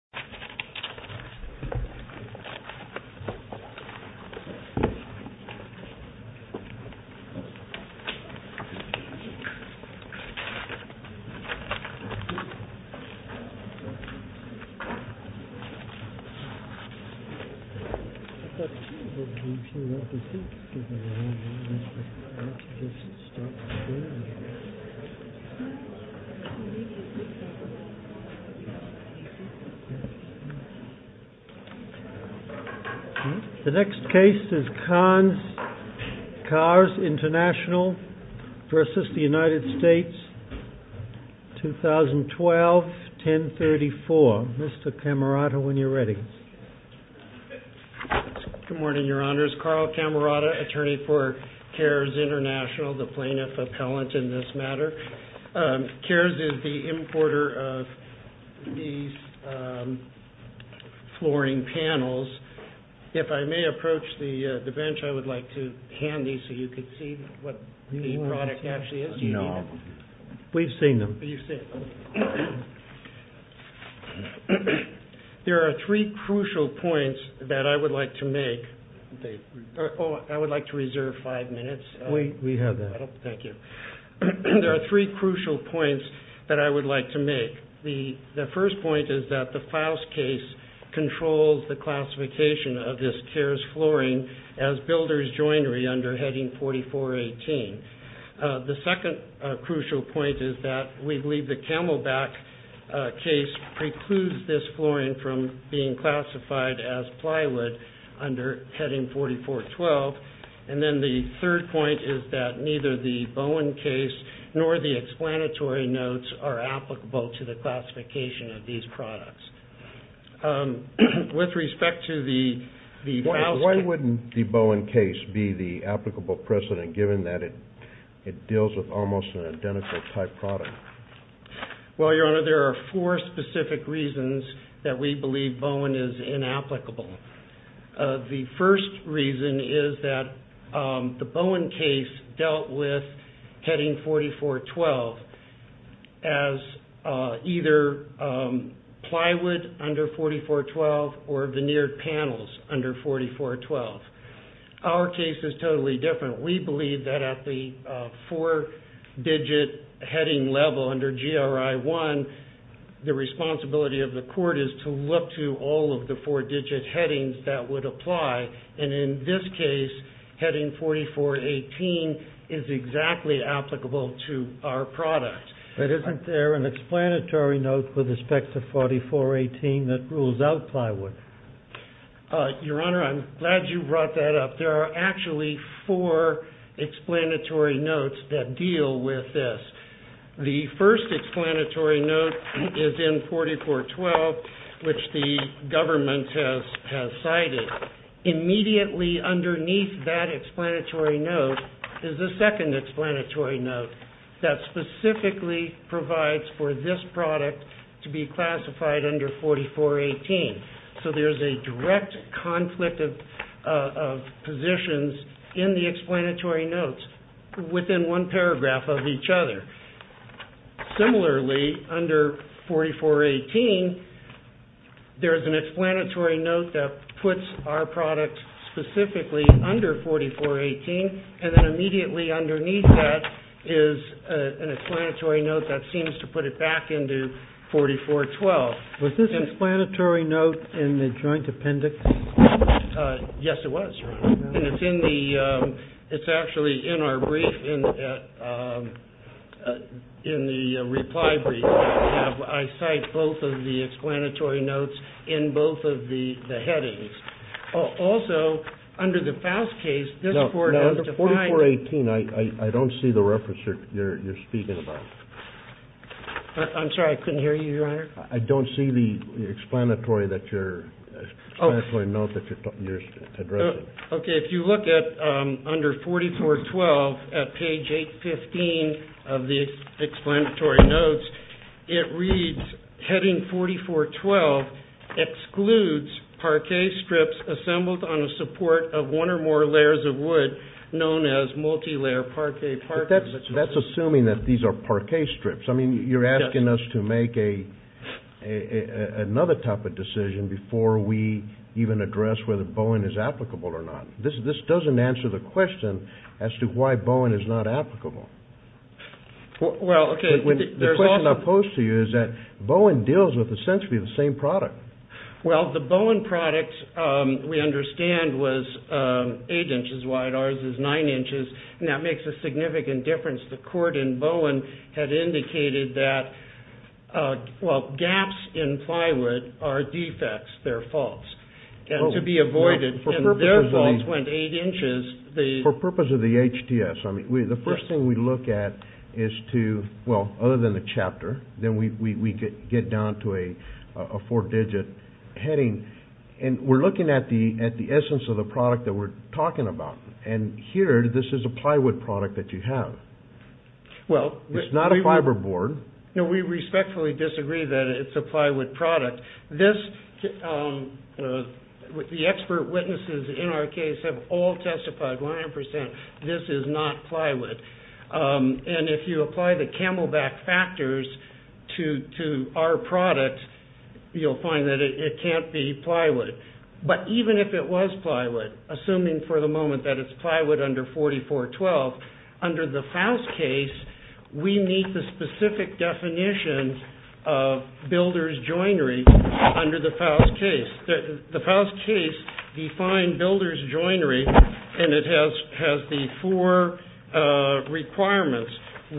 him him him from low caste un callers international versus united states two thousand twelve and 54 took him around when you're ready uh... with your honors programatory for care international training themselves anti-gressivity ordinary uh... flooring panels if i may approach the uh... the bench i would like to handy so you could see the product actually is we've seen them there are three crucial points that i would like to make or or i would like to reserve five minutes we we have a thank you there are three crucial points that i would like to make the first point is that the files case controls the classification of this cares flooring as builders joinery under heading forty four eighteen uh... the second uh... crucial point is that we believe the camelback uh... case precludes this flooring from being classified as plywood under heading forty four twelve and then the third point is that neither the bowen case nor the explanatory notes are applicable to the classification of these products uh... with respect to the the why wouldn't the bowen case be the applicable precedent given that it it deals with almost identical type product well your honor there are four specific reasons that we believe bowen is inapplicable uh... the first reason is that uh... the bowen case dealt with heading forty four twelve as uh... either uh... plywood under forty four twelve or veneered panels under forty four twelve our case is totally different we believe that at the uh... four digit heading level under g r i one the responsibility of the court is to look to all of the four digit headings that would apply and in this case heading forty four eighteen is exactly applicable to our product but isn't there an explanatory note with respect to forty four eighteen that rules out plywood uh... your honor i'm glad you brought that up there are actually four explanatory notes that deal with this the first explanatory note is in forty four twelve which the government has has cited immediately underneath that explanatory note is the second explanatory note that specifically provides for this product to be classified under forty four eighteen so there's a direct conflict of uh... positions in the explanatory notes within one paragraph of each other similarly under forty four eighteen there's an explanatory note that puts our product specifically under forty four eighteen and then immediately underneath that is uh... an explanatory note that seems to put it back into forty four twelve was this explanatory note in the joint appendix uh... yes it was it's actually in our brief in the reply brief i cite both of the explanatory notes in both of the headings also under the foust case this court has defined no under forty four eighteen i don't see the reference you're speaking about i'm sorry i couldn't hear you your honor i don't see the explanatory that you're explanatory note that you're addressing okay if you look at uh... under forty four twelve at page eight fifteen of the explanatory notes it reads heading forty four twelve excludes parquet strips assembled on the support of one or more layers of wood known as multi-layer parquet parquet that's assuming that these are parquet strips i mean you're asking us to make a another type of decision before we even address whether bowen is applicable or not this this doesn't answer the question as to why bowen is not applicable well okay the question i'll pose to you is that bowen deals with essentially the same product well the bowen products uh... we understand was uh... eight inches wide ours is nine inches and that makes a significant difference the court in bowen had indicated that uh... well gaps in plywood are defects they're faults and to be avoided and their faults went eight inches for purpose of the hds i mean the first thing we look at is to well other than the chapter then we could get down to a a four digit and we're looking at the at the essence of the product that we're talking about and here this is a plywood product that you have well it's not a fiberboard we respectfully disagree that it's a plywood product the expert witnesses in our case have all testified one hundred percent this is not plywood uh... and if you apply the camelback factors to to our product you'll find that it can't be plywood but even if it was plywood assuming for the moment that it's plywood under forty four twelve under the faust case we meet the specific definitions builders joinery under the faust case the faust case defined builders joinery and it has has the four uh... requirements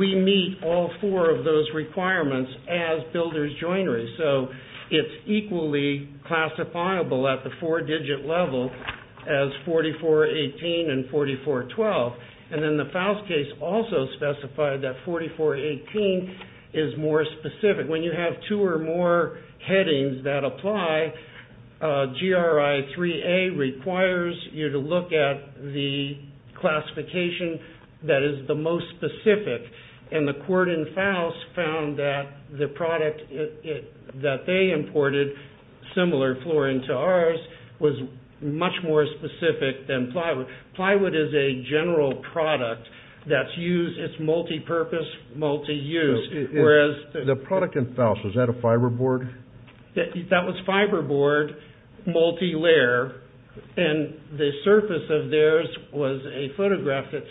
we meet all four of those requirements as builders joinery so it's equally classifiable at the four digit level as forty four eighteen and forty four twelve and then the faust case also specified that forty four eighteen is more specific when you have two or more headings that apply uh... g r i three a requires you to look at the classification that is the most specific and the court in faust found that the product that they imported similar flooring to ours much more specific than plywood plywood is a general product that's used it's multipurpose multi-use whereas the product in faust was that a fiberboard that was fiberboard multi-layer and the surface of theirs was a photograph that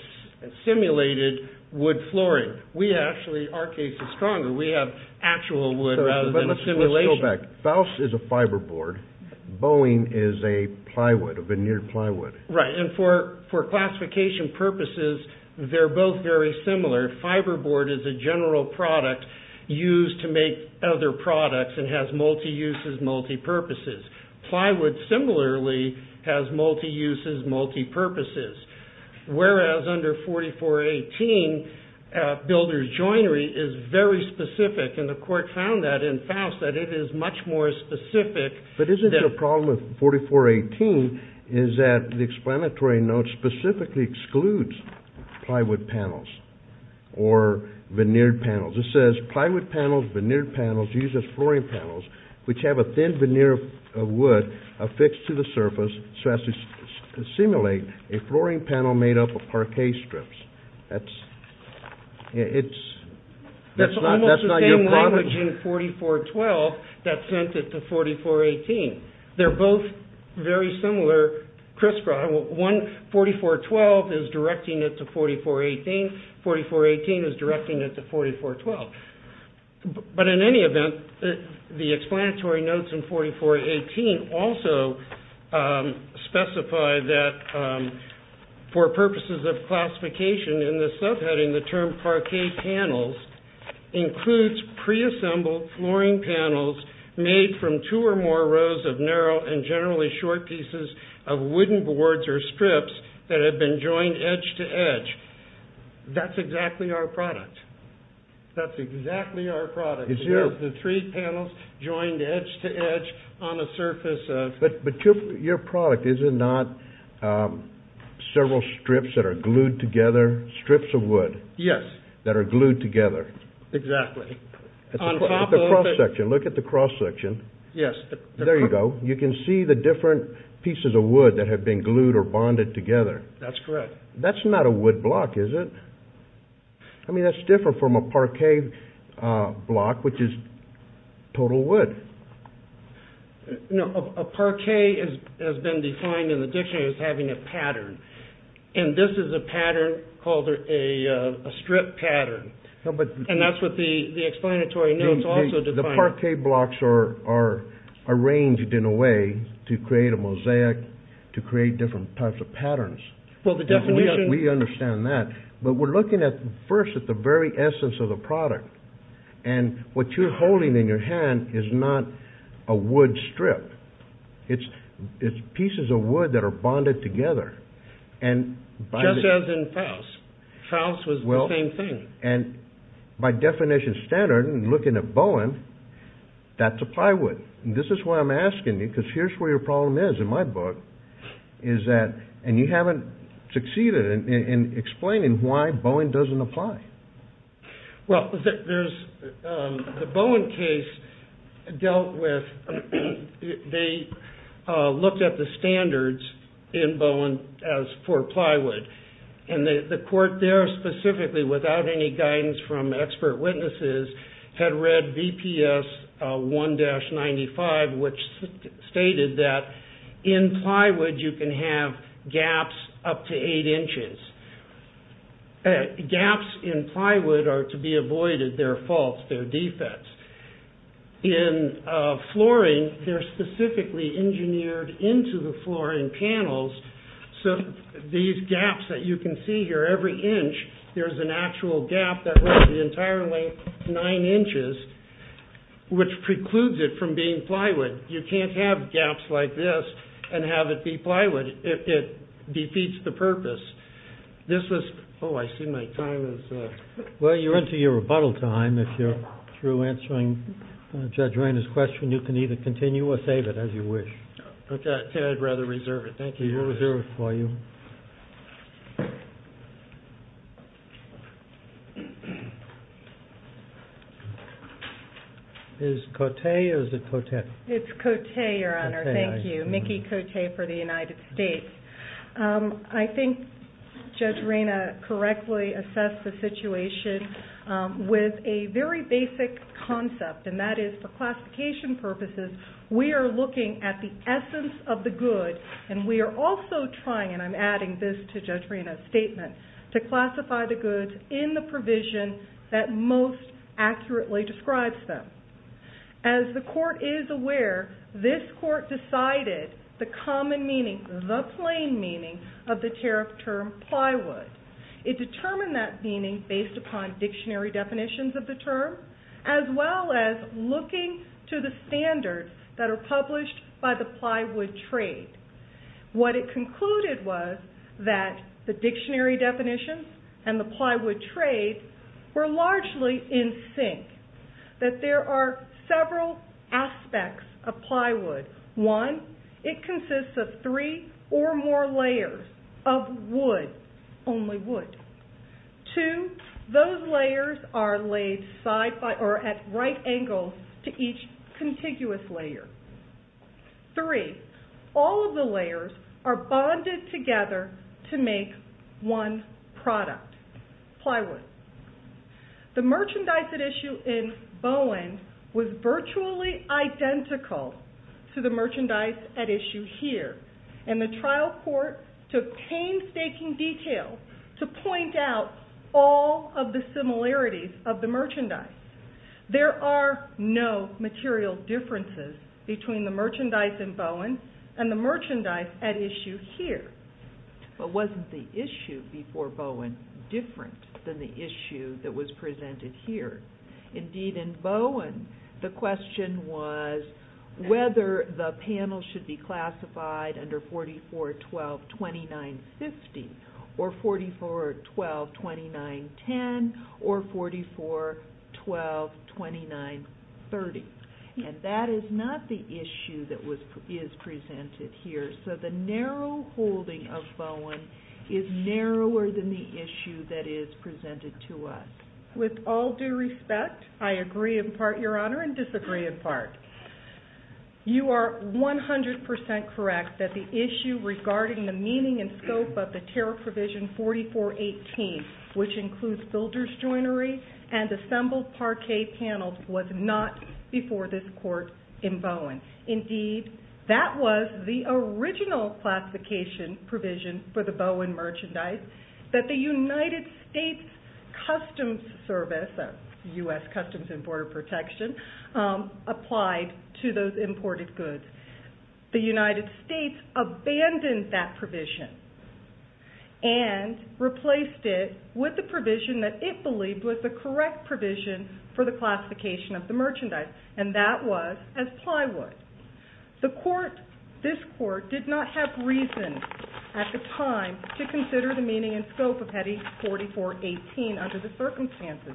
simulated wood flooring we actually our case is stronger we have actual wood rather than a simulation but let's go back faust is a fiberboard bowing is a plywood a veneered plywood right and for for classification purposes they're both very similar fiberboard is a general product used to make other products and has multi-uses multi-purposes plywood similarly has multi-uses multi-purposes whereas under forty four eighteen builder's joinery is very specific and the court found that in faust that it is much more specific but isn't the problem with forty four eighteen is that the explanatory note specifically excludes plywood panels or veneered panels it says plywood panels, veneered panels, used as flooring panels which have a thin veneer of wood affixed to the surface so as to simulate a flooring panel made up of parquet strips it's that's not your problem that sent it to forty four eighteen they're both very similar criss-cross one forty four twelve is directing it to forty four eighteen forty four eighteen is directing it to forty four twelve but in any event the explanatory notes in forty four eighteen also specified that for purposes of classification in the subheading the term parquet panels includes pre-assembled flooring panels made from two or more rows of narrow and generally short pieces of wooden boards or strips that have been joined edge to edge that's exactly our product that's exactly our product, the three panels joined edge to edge on the surface of, but your product is it not several strips that are glued together, strips of wood that are glued together exactly on top of, look at the cross section yes, there you go, you can see the different pieces of wood that have been glued or bonded together that's correct that's not a wood block is it I mean that's different from a parquet block which is total wood no, a parquet has been defined in the dictionary as having a pattern and this is a pattern called a strip pattern and that's what the explanatory notes also define the parquet blocks are to create different types of patterns we understand that but we're looking at first at the very essence of the product and what you're holding in your hand is not a wood strip it's pieces of wood that are bonded together just as in Faust Faust was the same thing by definition standard, looking at Bowen that's a plywood this is why I'm asking you because here's where your problem is in my book is that, and you haven't succeeded in explaining why Bowen doesn't apply well there's the Bowen case dealt with they looked at the standards in Bowen as for plywood and the court there specifically without any guidance from expert witnesses had read BPS 1-95 which stated that in plywood you can have gaps up to eight inches gaps in plywood are to be avoided, they're false, they're defects in flooring they're specifically engineered into the flooring panels so these gaps that you can see here every inch there's an actual gap that runs the entire length nine inches which precludes it from being plywood, you can't have gaps like this and have it be plywood if it defeats the purpose this is, oh I see my time is well you're into your rebuttal time if you're through answering Judge Rainer's question you can either continue or save it as you wish okay I'd rather reserve it, thank you Is it Cote or is it Cote? It's Cote your honor, thank you, Mickey Cote for the United States uh... I think Judge Rainer correctly assessed the situation uh... with a very basic concept and that is for classification purposes we are looking at the essence of the good and we are also trying and I'm adding this to Judge Rainer's statement to classify the goods in the provision that most accurately describes them as the court is aware this court decided the common meaning, the plain meaning of the tariff term plywood it determined that meaning based upon dictionary definitions of the term as well as looking to the standards that are published by the plywood trade what it concluded was that the dictionary definition and the plywood trade were largely in sync that there are several aspects of plywood one, it consists of three or more layers of wood only wood two, those layers are laid at right angles to each contiguous layer three, all of the layers are bonded together to make one product plywood the merchandise at issue in Bowen was virtually identical to the merchandise at issue here and the trial court took painstaking detail to point out all of the similarities of the merchandise there are no material differences between the merchandise in Bowen and the merchandise at issue here but wasn't the issue before Bowen different than the issue that was presented here indeed in Bowen the question was whether the panel should be classified under 44-12-29-50 or 44-12-29-10 or 44-12-29-30 and that is not the issue that is presented here so the narrow holding of Bowen is narrower than the issue that is presented to us with all due respect I agree in part your honor and disagree in part you are one hundred percent correct that the issue regarding the meaning and scope of the tariff provision 44-18 which includes builder's joinery and assembled parquet panels was not before this court in Bowen indeed that was the original classification provision for the Bowen merchandise that the United States Customs Service U.S. Customs and Border Protection applied to those imported goods the United States abandoned that provision and replaced it with the provision that it believed was the correct provision for the classification of the merchandise and that was as plywood the court this court did not have reason at the time to consider the meaning and scope of heading 44-18 under the circumstances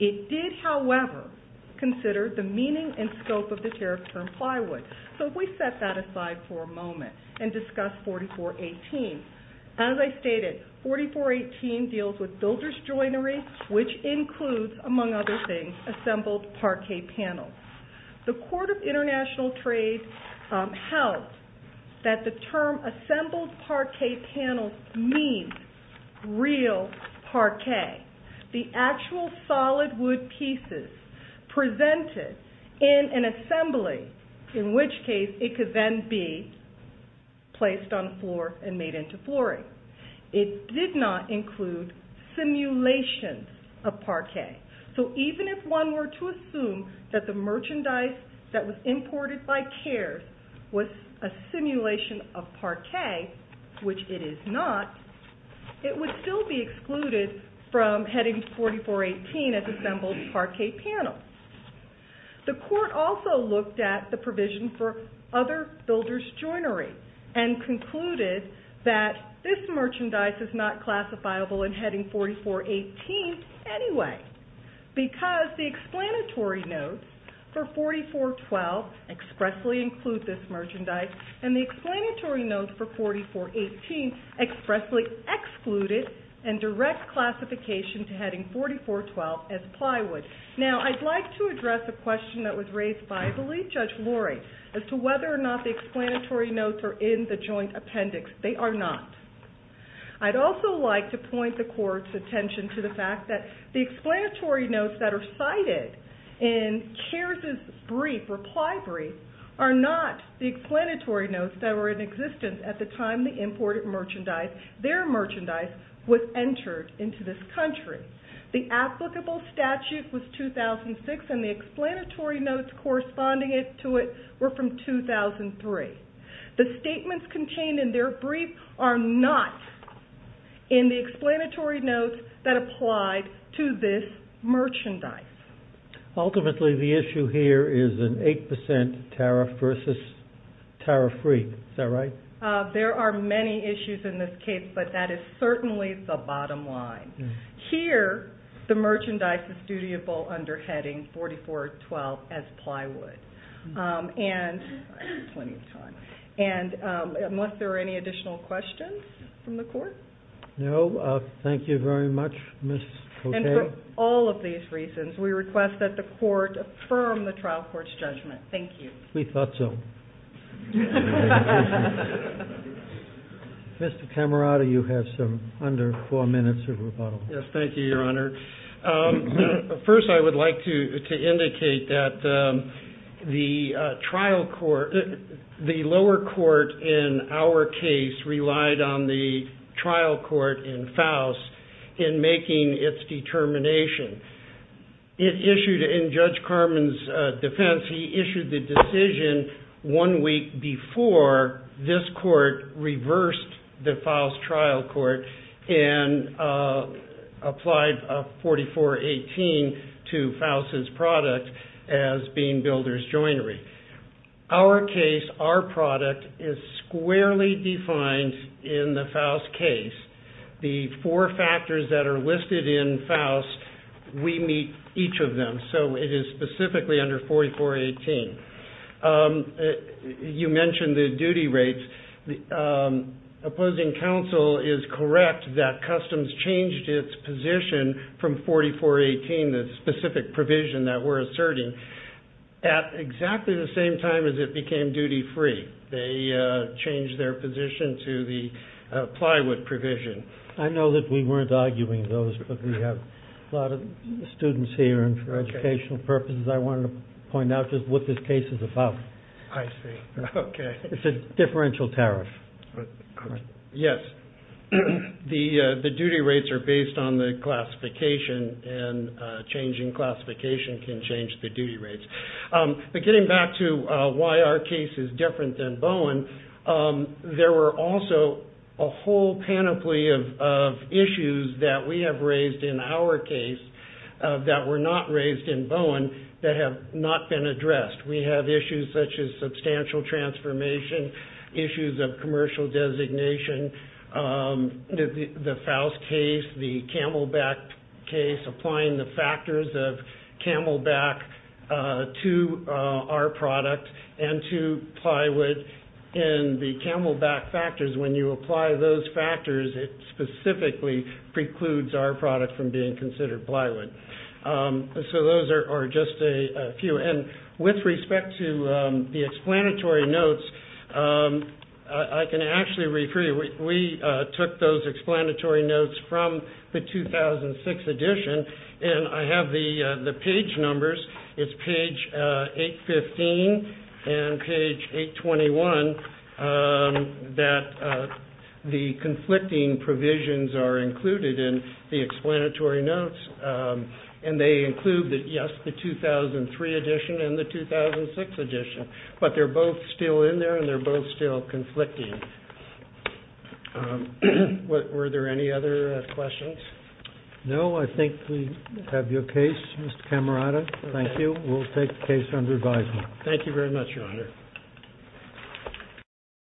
it did however consider the meaning and scope of the tariff term plywood so if we set that aside for a moment and discuss 44-18 as I stated 44-18 deals with builder's joinery which includes among other things assembled parquet panels the court of international trade held that the term assembled parquet panels means real parquet the actual solid wood pieces presented in an assembly in which case it could then be placed on the floor and made into flooring it did not include simulations of parquet so even if one were to assume that the merchandise that was imported by CARES was a simulation of parquet which it is not it would still be excluded from heading 44-18 as assembled parquet panels the court also looked at the provision for other builder's joinery and concluded that this merchandise is not classifiable in heading 44-18 anyway because the explanatory notes for 44-12 expressly include this merchandise and the explanatory notes for 44-18 expressly excluded and direct classification to heading 44-12 as plywood now I'd like to address a question that was raised by the lead judge Lori as to whether or not the explanatory notes are in the joint appendix they are not I'd also like to point the court's attention to the fact that the explanatory notes that are cited in CARES' reply brief are not the explanatory notes that were in existence at the time the imported merchandise their merchandise was entered into this country the applicable statute was 2006 and the explanatory notes corresponding to it were from 2003 the statements contained in their brief are not in the explanatory notes that applied to this merchandise ultimately the issue here is an eight percent tariff versus tariff-free there are many issues in this case but that is certainly the bottom line here the merchandise is dutiable under heading 44-12 as plywood and unless there are any additional questions from the court no, thank you very much and for all of these reasons we request that the court affirm the trial court's judgment thank you we thought so Mr. Camarata you have some under four minutes of rebuttal yes thank you your honor first I would like to indicate that the trial court the lower court in our case relied on the trial court in Faust in making its determination it issued in Judge Carmen's defense he issued the decision one week before this court reversed the Faust trial court and applied 44-18 to Faust's product as being builder's joinery our case our product is squarely defined in the Faust case the four factors that are listed in Faust we meet each of them so it is specifically under 44-18 uh... you mentioned the duty rates uh... the court in our case changed its position from 44-18 the specific provision that we're asserting at exactly the same time as it became duty free they uh... changed their position to the plywood provision I know that we weren't arguing those but we have a lot of students here and for educational purposes I wanted to point out just what this case is about it's a differential tariff correct yes the uh... the duty rates are based on the classification and uh... changing classification can change the duty rates uh... but getting back to uh... why our case is different than Bowen uh... there were also a whole panoply of of issues that we have raised in our case uh... that were not raised in Bowen that have not been addressed we have issues such as substantial transformation issues of commercial designation uh... the Faust case the Camelback case applying the factors of Camelback uh... to uh... our product and to plywood and the Camelback factors when you apply those factors it specifically precludes our product from being considered plywood uh... so those are just a few and with respect to uh... the explanatory notes uh... I can actually refer you we uh... took those explanatory notes from the 2006 edition and I have the uh... the page numbers it's page uh... 815 and page 821 uh... that uh... the conflicting provisions are included in the explanatory notes uh... and they include that yes the 2003 edition and the 2006 edition but they're both still in there and they're both still conflicting uh... were there any other uh... questions no I think we have your case Mr. Camerata thank you we'll take the case under advisement thank you very much your honor